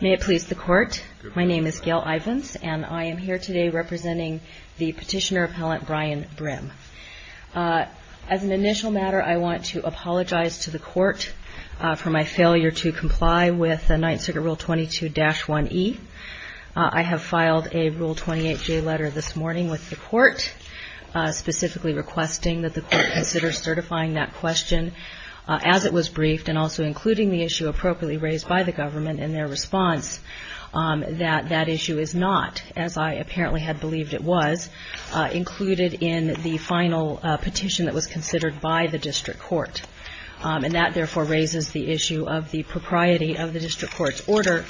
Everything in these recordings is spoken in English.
May it please the Court, my name is Gail Ivins and I am here today representing the Petitioner Appellant Brian Brim. As an initial matter, I want to apologize to the Court for my failure to comply with 9th Circuit Rule 22-1E. I have filed a Rule 28J letter this morning with the Court, specifically requesting that the Court consider certifying that question as it was briefed and also including the issue appropriately raised by the Government in their response that that issue is not, as I apparently had believed it was, included in the final petition that was considered by the District Court. And that therefore raises the issue of the propriety of the District Court's order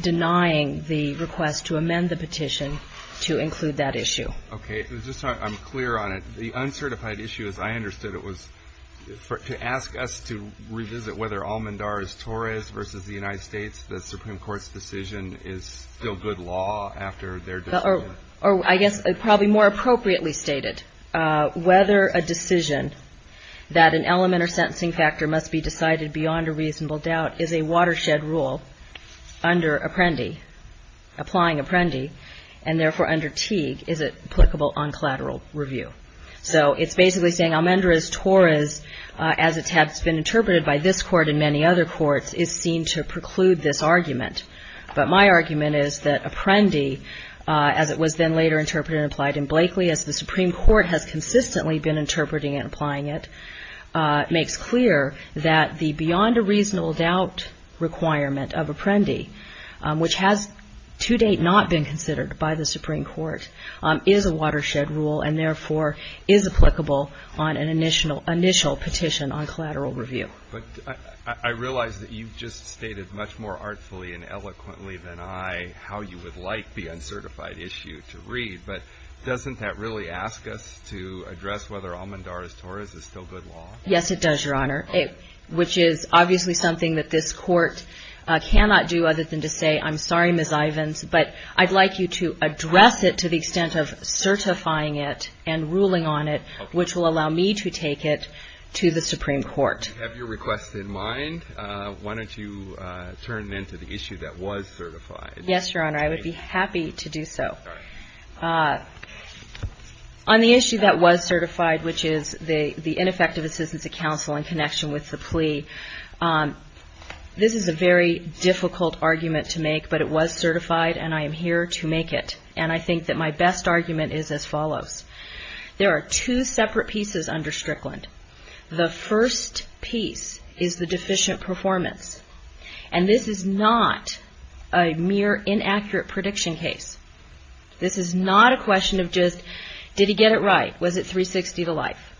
denying the request to amend the petition to include that issue. Okay. Just so I'm clear on it, the uncertified issue, as I understood it, was to ask us to revisit whether Almendar's Torres v. the United States, the Supreme Court's decision is still good law after their decision? Or I guess probably more appropriately stated, whether a decision that an element or sentencing factor must be decided beyond a reasonable doubt is a watershed rule under Apprendi applying Apprendi, and therefore under Teague, is it applicable on collateral review? So it's basically saying Almendar's Torres, as it has been interpreted by this Court and many other courts, is seen to preclude this argument. But my argument is that Apprendi, as it was then later interpreted and applied in Blakeley, as the Supreme Court has consistently been interpreting and applying it, makes clear that the beyond a reasonable doubt requirement of Apprendi, which has to date not been considered by the Supreme Court, is a watershed rule and therefore is applicable on an initial petition on collateral review. But I realize that you've just stated much more artfully and eloquently than I how you would like the uncertified issue to read, but doesn't that really ask us to address whether Almendar's Torres is still good law? Yes, it does, Your Honor, which is obviously something that this Court cannot do other than to say, I'm sorry, Ms. Ivins, but I'd like you to address it to the extent of certifying it and ruling on it, which will allow me to take it to the Supreme Court. So you have your request in mind. Why don't you turn it into the issue that was certified? Yes, Your Honor, I would be happy to do so. On the issue that was certified, which is the ineffective assistance of counsel in connection with the plea, this is a very difficult argument to make, but it was certified and I am here to make it. And I think that my best argument is as follows. There are two separate pieces under Strickland. The first piece is the deficient performance. And this is not a mere inaccurate prediction case. This is not a question of just, did he get it right? Was it 360 to life?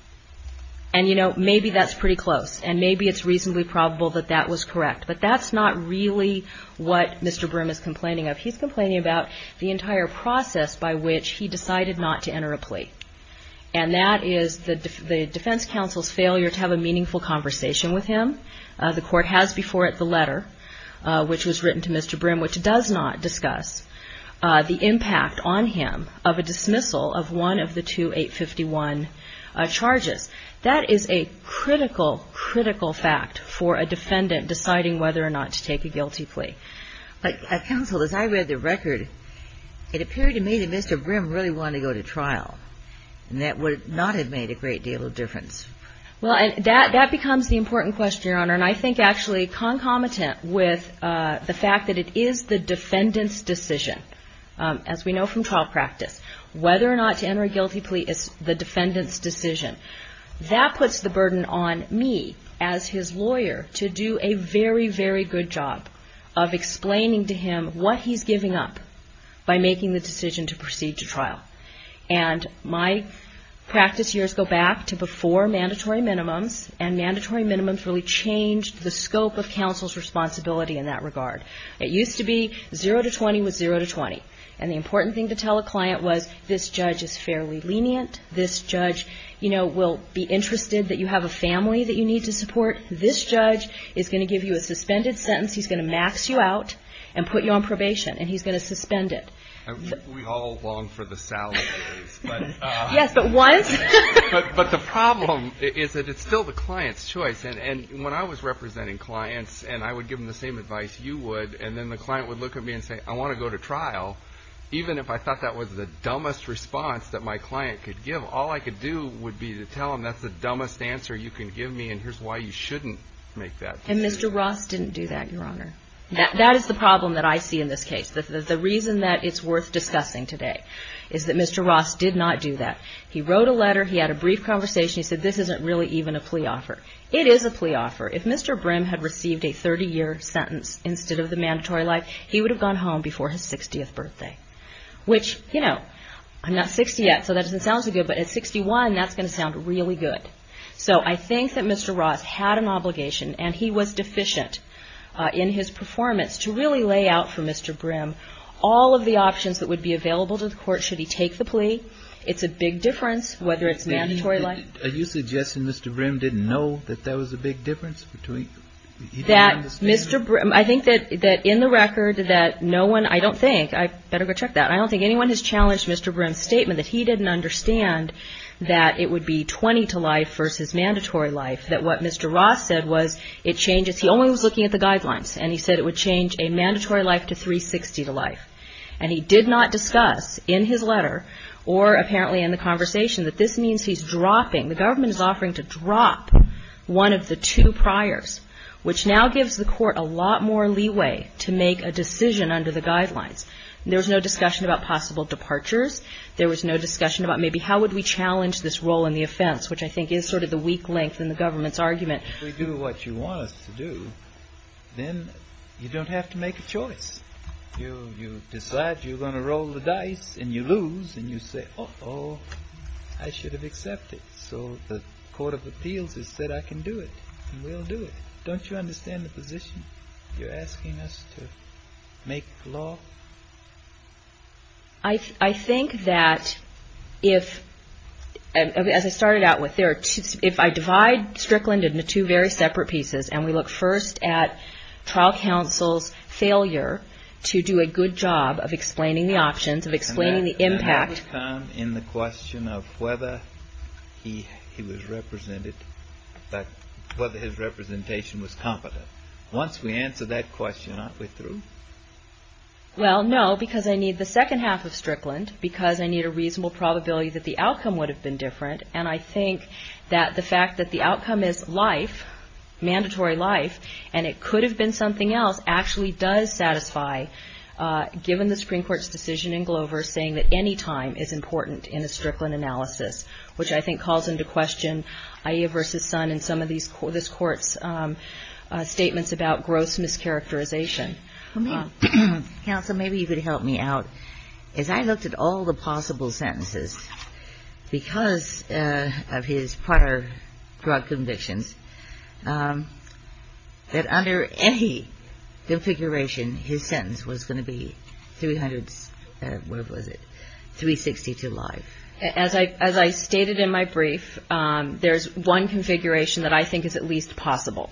And, you know, maybe that's pretty close and maybe it's reasonably probable that that was correct, but that's not really what Mr. Brim is complaining of. He's complaining about the entire process by which he decided not to enter a plea. And that is the defense counsel's failure to have a meaningful conversation with him. The Court has before it the letter, which was written to Mr. Brim, which does not discuss the impact on him of a dismissal of one of the two 851 charges. That is a critical, critical fact for a defendant deciding whether or not to take a guilty plea. But, counsel, as I read the record, it appeared to me that Mr. Brim really wanted to go to trial and that would not have made a great deal of difference. Well, that becomes the important question, Your Honor, and I think actually concomitant with the fact that it is the defendant's decision, as we know from trial practice, whether or not to enter a guilty plea is the defendant's decision. That puts the burden on me, as his lawyer, to do a very, very good job of explaining to him what he's giving up by making the decision to proceed to trial. And my practice years go back to before mandatory minimums, and mandatory minimums really changed the scope of counsel's responsibility in that regard. It used to be zero to 20 was zero to 20. And the important thing to tell a client was, this judge is fairly lenient. This judge, you know, will be interested that you have a family that you need to support. This judge is going to give you a suspended sentence. He's going to max you out and put you on probation, and he's going to suspend it. We all long for the salaries, but the problem is that it's still the client's choice. And when I was representing clients, and I would give them the same advice you would, and then the client would look at me and say, I want to go to trial, even if I thought that was the dumbest response that my client could give, all I could do would be to tell him, that's the dumbest answer you can give me, and here's why you shouldn't make that decision. And Mr. Ross didn't do that, Your Honor. That is the problem that I see in this case. The reason that it's worth discussing today is that Mr. Ross did not do that. He wrote a letter. He had a brief conversation. He said, this isn't really even a plea offer. It is a plea offer. If Mr. Brim had received a 30-year sentence instead of the mandatory life, he would have gone home before his 60th birthday. Which, you know, I'm not 60 yet, so that doesn't sound so good, but at 61, that's going to sound really good. So I think that Mr. Ross had an obligation, and he was deficient in his performance to really lay out for Mr. Brim all of the options that would be available to the court should he take the plea. It's a big difference, whether it's mandatory life. And are you suggesting Mr. Brim didn't know that that was a big difference between – he didn't understand it? I think that in the record that no one – I don't think – I'd better go check that. I don't think anyone has challenged Mr. Brim's statement that he didn't understand that it would be 20 to life versus mandatory life, that what Mr. Ross said was it changes – he only was looking at the guidelines, and he said it would change a mandatory life to 360 to life. And he did not discuss in his letter or apparently in the conversation that this means he's dropping – the government is offering to drop one of the two priors, which now gives the court a lot more leeway to make a decision under the guidelines. There was no discussion about possible departures. There was no discussion about maybe how would we challenge this role in the offense, which I think is sort of the weak link in the government's argument. If we do what you want us to do, then you don't have to make a choice. You decide you're going to roll the dice, and you lose, and you say, uh-oh, I should have accepted. So the Court of Appeals has said I can do it, and we'll do it. Don't you understand the position? You're asking us to make law? I think that if – as I started out with, if I divide Strickland into two very separate pieces, and we look first at trial counsel's failure to do a good job of explaining the options, of explaining the impact – And that would come in the question of whether he was represented – whether his representation was competent. Once we answer that question, aren't we through? Well, no, because I need the second half of Strickland, because I need a reasonable probability that the outcome would have been different, and I think that the fact that the outcome is life, mandatory life, and it could have been something else, actually does satisfy, given the Supreme Court's decision in Glover saying that any time is important in a Strickland analysis, which I think calls into question Aiea v. Son and some of this Court's statements about gross mischaracterization. Counsel, maybe you could help me out. As I looked at all the possible sentences, because of his prior drug convictions, that under any configuration, his sentence was going to be 300 – where was it – 360 to life. As I stated in my brief, there's one configuration that I think is at least possible,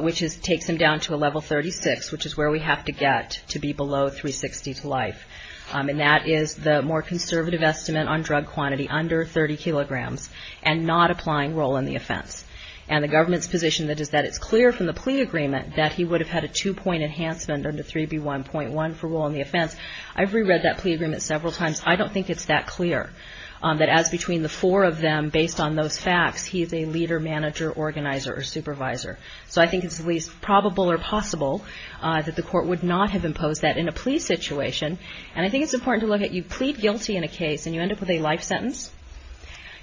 which takes him down to a level 36, which is where we have to get to be below 360 to life, and that is the more conservative estimate on drug quantity under 30 kilograms, and not applying role in the offense. And the government's position is that it's clear from the plea agreement that he would have had a two-point enhancement under 3B1.1 for role in the offense. I've reread that plea agreement several times. I don't think it's that clear, that as between the four of them, based on those facts, he's a leader, manager, organizer, or supervisor. So I think it's at least probable or possible that the Court would not have imposed that in a plea situation. And I think it's important to look at – you plead guilty in a case and you end up with a life sentence.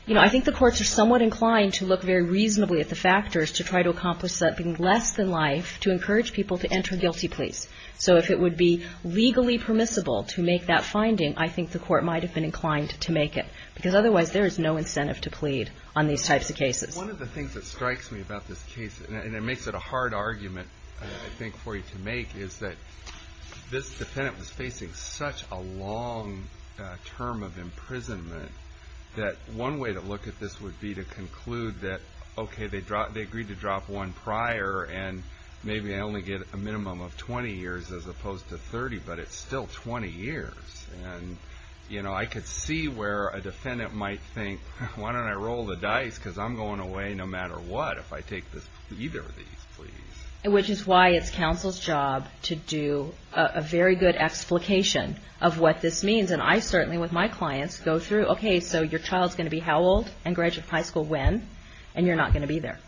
You know, I think the courts are somewhat inclined to look very reasonably at the factors to try to accomplish something less than life to encourage people to enter guilty pleas. So if it would be legally permissible to make that finding, I think the Court might have been inclined to make it, because otherwise there is no incentive to plead on these types of cases. One of the things that strikes me about this case, and it makes it a hard argument, I think, for you to make, is that this defendant was facing such a long term of imprisonment, that one way to look at this would be to conclude that, okay, they agreed to drop one prior, and maybe I only get a minimum of 20 years as opposed to 30, but it's still 20 years. And, you know, I could see where a defendant might think, why don't I roll the dice, because I'm going away no matter what if I take either of these pleas. Which is why it's counsel's job to do a very good explication of what this means. And I certainly, with my clients, go through, okay, so your child is going to be how old and graduate high school when, and you're not going to be there.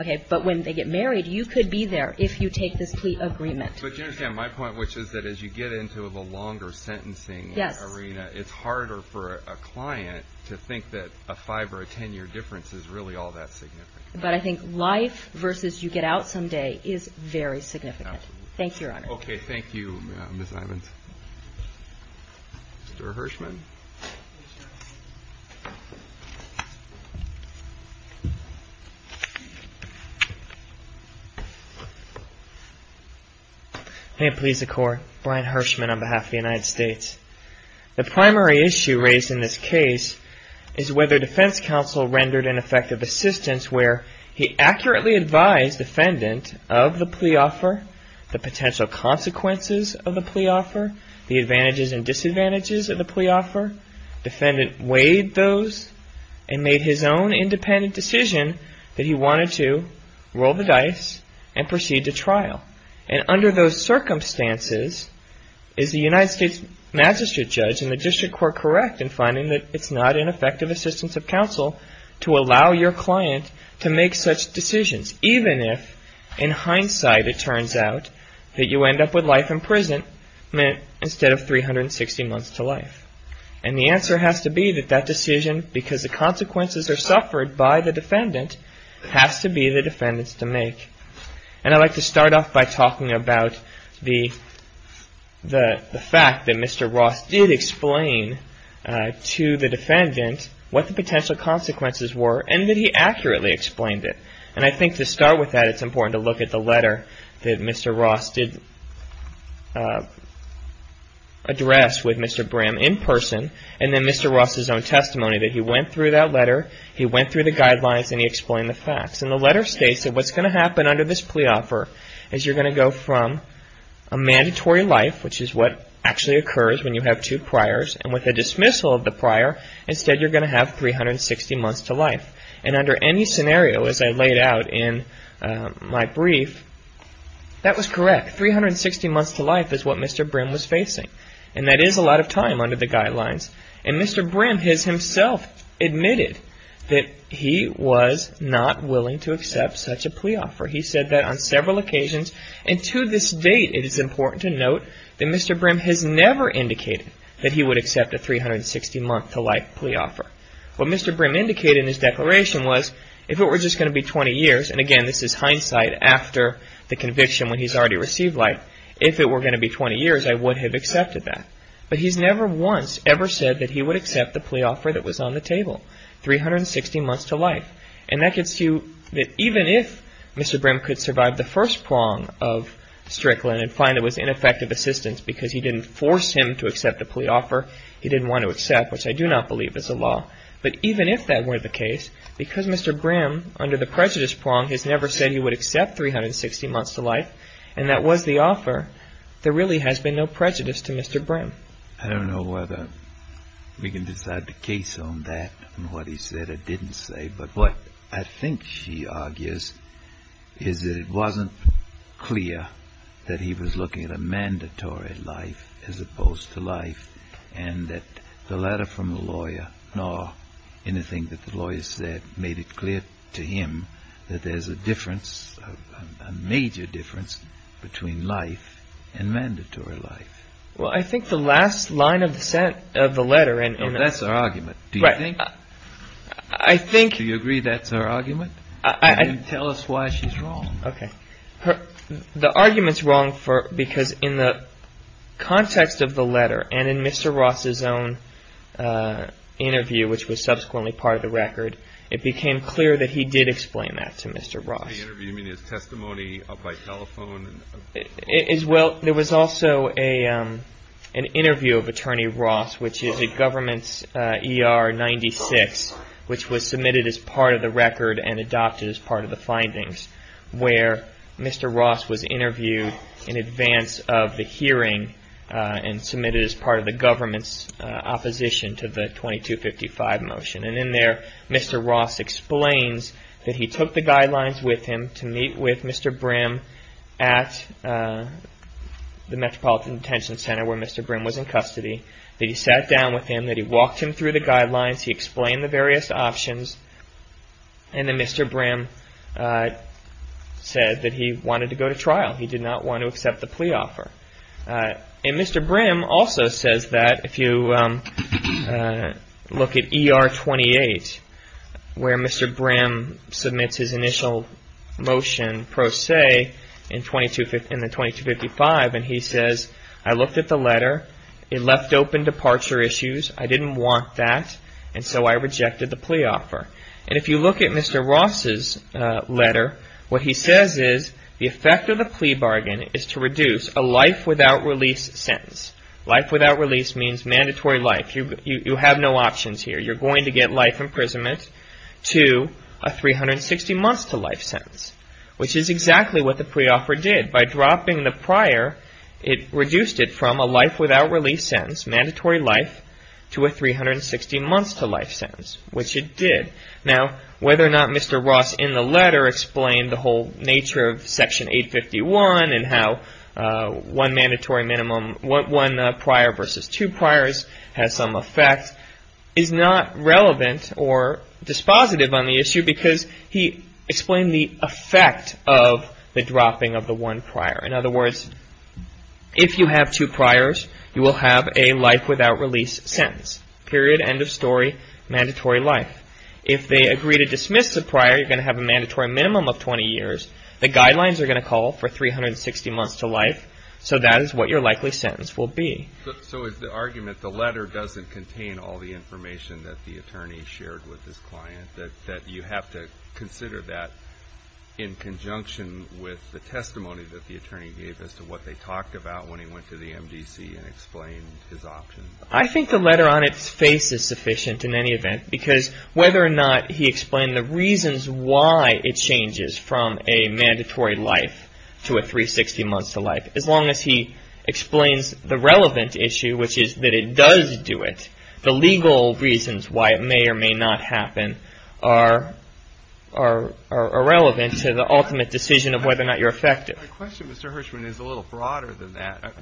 Okay. But when they get married, you could be there if you take this plea agreement. But you understand my point, which is that as you get into the longer sentencing arena, it's harder for a client to think that a 5 or a 10 year difference is really all that significant. But I think life versus you get out some day is very significant. Thank you, Your Honor. Okay. Thank you, Ms. Ivins. Mr. Hirshman. May it please the Court. Brian Hirshman on behalf of the United States. The primary issue raised in this case is whether defense counsel rendered an effective assistance where he accurately advised defendant of the plea offer, the potential consequences of the plea offer, the advantages and disadvantages of the plea offer. Defendant weighed those and made his own independent decision that he wanted to roll the dice and proceed to trial. And under those circumstances, is the United States magistrate judge and the district court correct in finding that it's not an effective assistance of counsel to allow your client to make such decisions, even if in hindsight it turns out that you end up with life in prison instead of 360 months to life? And the answer has to be that that decision, because the consequences are suffered by the defendant, has to be the defendant's to make. And I'd like to start off by talking about the fact that Mr. Ross did explain to the defendant what the potential consequences were and that he accurately explained it. And I think to start with that, it's important to look at the letter that Mr. Ross did address with Mr. Brim in person and then Mr. Ross' own testimony that he went through that letter, he went through the guidelines, and he explained the facts. And the letter states that what's going to happen under this plea offer is you're going to go from a mandatory life, which is what actually occurs when you have two priors, and with the dismissal of the prior, instead you're going to have 360 months to life. And under any scenario, as I laid out in my brief, that was correct. 360 months to life is what Mr. Brim was facing. And that is a lot of time under the guidelines. And Mr. Brim has himself admitted that he was not willing to accept such a plea offer. He said that on several occasions, and to this date it is important to note that Mr. Brim did not accept a 360-month-to-life plea offer. What Mr. Brim indicated in his declaration was if it were just going to be 20 years, and again, this is hindsight after the conviction when he's already received life, if it were going to be 20 years, I would have accepted that. But he's never once ever said that he would accept the plea offer that was on the table, 360 months to life. And that gets you that even if Mr. Brim could survive the first prong of Strickland and find it was ineffective assistance because he didn't force him to accept the plea offer, he didn't want to accept, which I do not believe is the law. But even if that were the case, because Mr. Brim under the prejudice prong has never said he would accept 360 months to life, and that was the offer, there really has been no prejudice to Mr. Brim. I don't know whether we can decide the case on that and what he said or didn't say. But what I think he argues is that it wasn't clear that he was looking at a mandatory life as opposed to life, and that the letter from the lawyer, nor anything that the lawyer said made it clear to him that there's a difference, a major difference, between life and mandatory life. Well, I think the last line of the letter, and... That's our argument. Right. Do you agree? I think... Do you agree that's our argument? I... Then tell us why she's wrong. Okay. The argument's wrong because in the context of the letter and in Mr. Ross's own interview, which was subsequently part of the record, it became clear that he did explain that to Mr. Ross. The interview, you mean his testimony by telephone? Well, there was also an interview of Attorney Ross, which is a government's ER-96, which was submitted as part of the record and adopted as part of the findings, where Mr. Ross was interviewed in advance of the hearing and submitted as part of the government's opposition to the 2255 motion, and in there, Mr. Ross explains that he took the guidelines with him to meet with Mr. Brim at the Metropolitan Detention Center, where Mr. Brim was in custody, that he sat down with him, that he walked him through the guidelines, he explained the various options, and then Mr. Brim said that he wanted to go to trial. He did not want to accept the plea offer, and Mr. Brim also says that if you look at ER-28, where Mr. Brim submits his initial motion pro se in the 2255 and he says, I looked at the letter, it left open departure issues, I didn't want that, and so I rejected the plea offer. And if you look at Mr. Ross's letter, what he says is, the effect of the plea bargain is to reduce a life without release sentence. Life without release means mandatory life. You have no options here. You're going to get life imprisonment to a 360-months-to-life sentence, which is exactly what the plea offer did. By dropping the prior, it reduced it from a life without release sentence, mandatory life, to a 360-months-to-life sentence, which it did. Now, whether or not Mr. Ross in the letter explained the whole nature of Section 851 and how one prior versus two priors has some effect is not relevant or dispositive on the issue, because he explained the effect of the dropping of the one prior. In other words, if you have two priors, you will have a life without release sentence. Period, end of story, mandatory life. If they agree to dismiss the prior, you're going to have a mandatory minimum of 20 years. The guidelines are going to call for 360 months to life, so that is what your likely sentence will be. So, is the argument the letter doesn't contain all the information that the attorney shared with his client, that you have to consider that in conjunction with the testimony that the attorney gave as to what they talked about when he went to the MDC and explained his options? I think the letter on its face is sufficient in any event, because whether or not he explained the reasons why it changes from a mandatory life to a 360 months to life, as long as he explains the relevant issue, which is that it does do it, the legal reasons why it may or may not happen are irrelevant to the ultimate decision of whether or not you're effective. My question, Mr. Hirschman, is a little broader than that.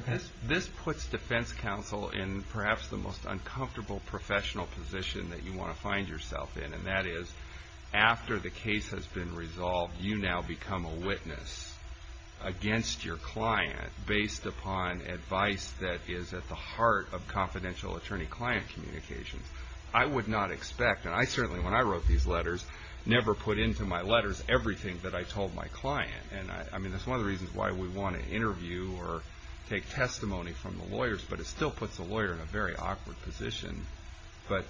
This puts defense counsel in perhaps the most uncomfortable professional position that you after the case has been resolved, you now become a witness against your client based upon advice that is at the heart of confidential attorney-client communications. I would not expect, and I certainly, when I wrote these letters, never put into my letters everything that I told my client. I mean, that's one of the reasons why we want to interview or take testimony from the lawyers, but it still puts a lawyer in a very awkward position. But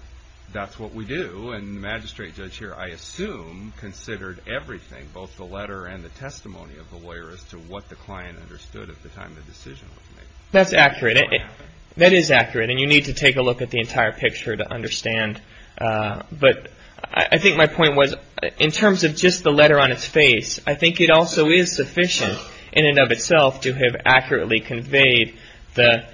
that's what we do. And the magistrate judge here, I assume, considered everything, both the letter and the testimony of the lawyer, as to what the client understood at the time the decision was made. That's accurate. That is accurate, and you need to take a look at the entire picture to understand. But I think my point was, in terms of just the letter on its face, I think it also is sufficient in and of itself to have accurately conveyed the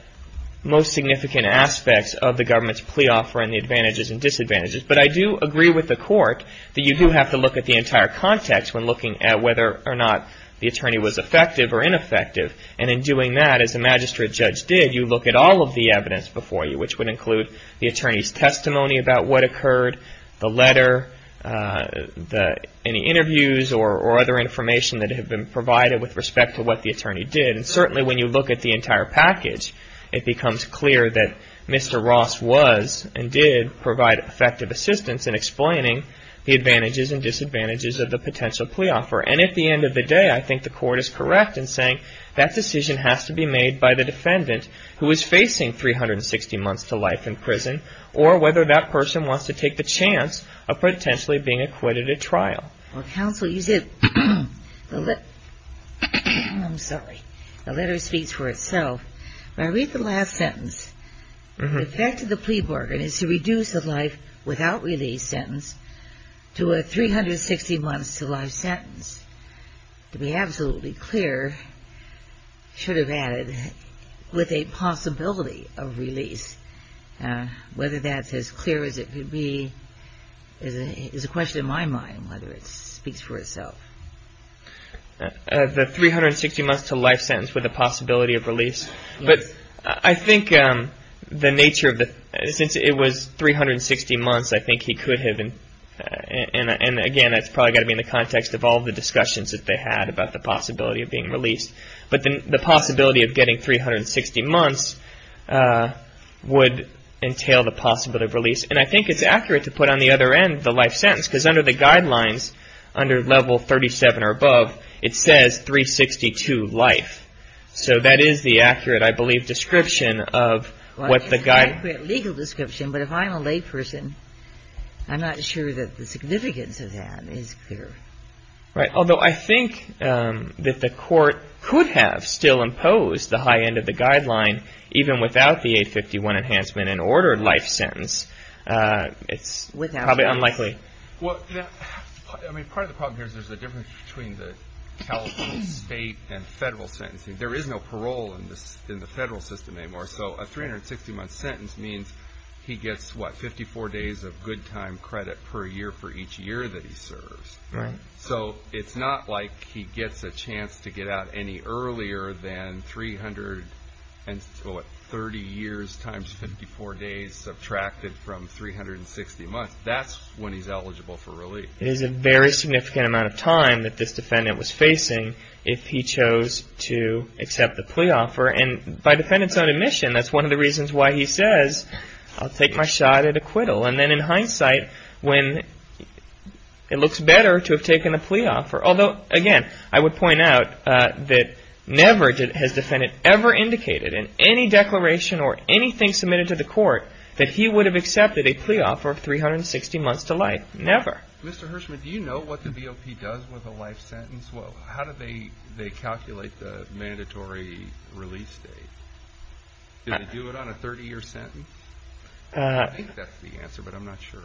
most significant aspects of the government's plea offer and the advantages and disadvantages. But I do agree with the court that you do have to look at the entire context when looking at whether or not the attorney was effective or ineffective. And in doing that, as the magistrate judge did, you look at all of the evidence before you, which would include the attorney's testimony about what occurred, the letter, any interviews or other information that had been provided with respect to what the attorney did. And certainly, when you look at the entire package, it becomes clear that Mr. Ross was and did provide effective assistance in explaining the advantages and disadvantages of the potential plea offer. And at the end of the day, I think the court is correct in saying that decision has to be made by the defendant, who is facing 360 months to life in prison, or whether that person wants to take the chance of potentially being acquitted at trial. Well, counsel, you said, I'm sorry, the letter speaks for itself. When I read the last sentence, the effect of the plea bargain is to reduce the life without release sentence to a 360 months to life sentence. To be absolutely clear, should have added, with a possibility of release. Whether that's as clear as it could be is a question in my mind, whether it speaks for itself. The 360 months to life sentence with a possibility of release. But I think the nature of the, since it was 360 months, I think he could have, and again, that's probably got to be in the context of all the discussions that they had about the possibility of being released. But the possibility of getting 360 months would entail the possibility of release. And I think it's accurate to put on the other end the life sentence, because under the guidelines, under level 37 or above, it says 362 life. So that is the accurate, I believe, description of what the guide. Well, it's an accurate legal description, but if I'm a lay person, I'm not sure that the significance of that is clear. Right. Although I think that the court could have still imposed the high end of the guideline, even without the 851 enhancement and ordered life sentence. It's probably unlikely. Well, I mean, part of the problem here is there's a difference between the California state and federal sentencing. There is no parole in the federal system anymore. So a 360 month sentence means he gets, what, 54 days of good time credit per year for each year that he serves. Right. So it's not like he gets a chance to get out any earlier than 330 years times 54 days subtracted from 360 months. That's when he's eligible for relief. It is a very significant amount of time that this defendant was facing if he chose to accept the plea offer. And by defendant's own admission, that's one of the reasons why he says, I'll take my shot at acquittal. And then in hindsight, when it looks better to have taken a plea offer, although, again, I would point out that never has defendant ever indicated in any declaration or anything submitted to the court that he would have accepted a plea offer of 360 months to life. Never. Mr. Hirschman, do you know what the BOP does with a life sentence? Well, how do they calculate the mandatory release date? Do they do it on a 30-year sentence? I think that's the answer, but I'm not sure.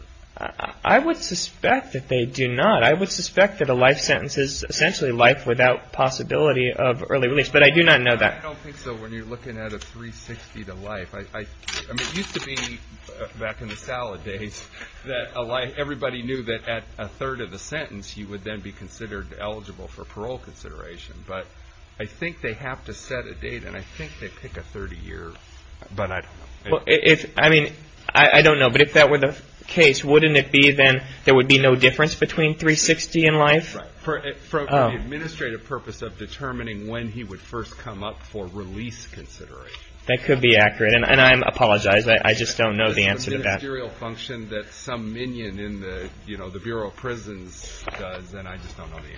I would suspect that they do not. I would suspect that a life sentence is essentially life without possibility of early release. But I do not know that. I don't think so when you're looking at a 360 to life. I mean, it used to be back in the salad days that everybody knew that at a third of the sentence, you would then be considered eligible for parole consideration. But I think they have to set a date, and I think they pick a 30-year, but I don't know. I mean, I don't know, but if that were the case, wouldn't it be then there would be no difference between 360 and life? Right. For the administrative purpose of determining when he would first come up for release consideration. That could be accurate, and I apologize. I just don't know the answer to that. It's a ministerial function that some minion in the Bureau of Prisons does, and I just don't know the answer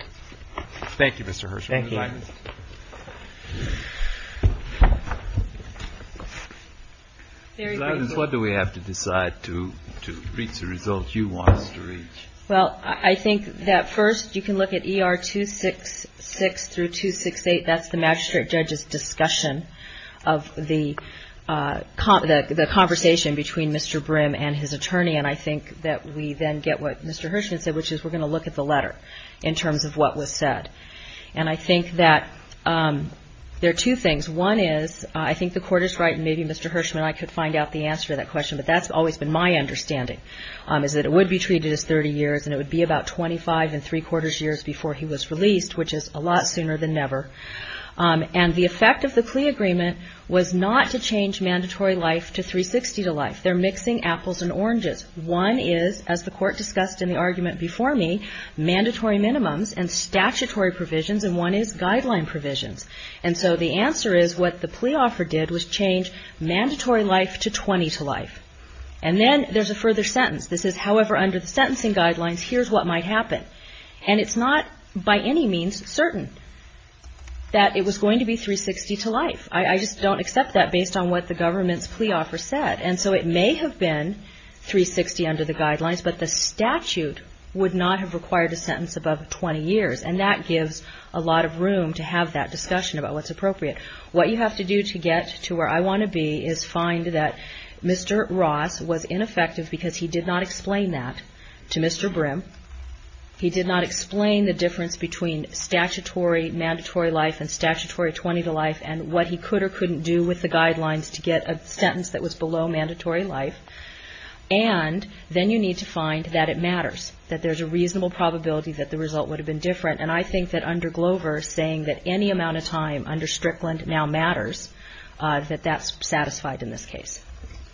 to that. Thank you, Mr. Hershman. Thank you. What do we have to decide to reach the results you want us to reach? Well, I think that first you can look at ER 266 through 268. That's the magistrate judge's discussion of the conversation between Mr. Brim and his attorney, and I think that we then get what Mr. Hershman said, which is we're going to look at the letter in terms of what was said. And I think that there are two things. One is I think the court is right, and maybe Mr. Hershman and I could find out the answer to that question, but that's always been my understanding is that it would be treated as 30 years, and it would be about 25 and three quarters years before he was released, which is a lot sooner than never. And the effect of the CLEA agreement was not to change mandatory life to 360 to life. They're mixing apples and oranges. One is, as the court discussed in the argument before me, mandatory minimums and statutory provisions, and one is guideline provisions. And so the answer is what the plea offer did was change mandatory life to 20 to life. And then there's a further sentence. This is, however, under the sentencing guidelines, here's what might happen. And it's not by any means certain that it was going to be 360 to life. I just don't accept that based on what the government's plea offer said. And so it may have been 360 under the guidelines, but the statute would not have required a sentence above 20 years. And that gives a lot of room to have that discussion about what's appropriate. What you have to do to get to where I want to be is find that Mr. Ross was ineffective because he did not explain that to Mr. Brim. He did not explain the difference between statutory mandatory life and statutory 20 to life, and what he could or couldn't do with the guidelines to get a sentence that was below mandatory life. And then you need to find that it matters, that there's a reasonable probability that the result would have been different. And I think that under Glover, saying that any amount of time under Strickland now matters, that that's satisfied in this case.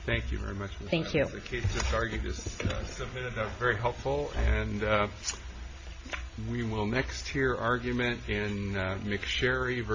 Thank you very much. Thank you. The case that's argued is submitted very helpful, and we will next hear argument in McSherry v...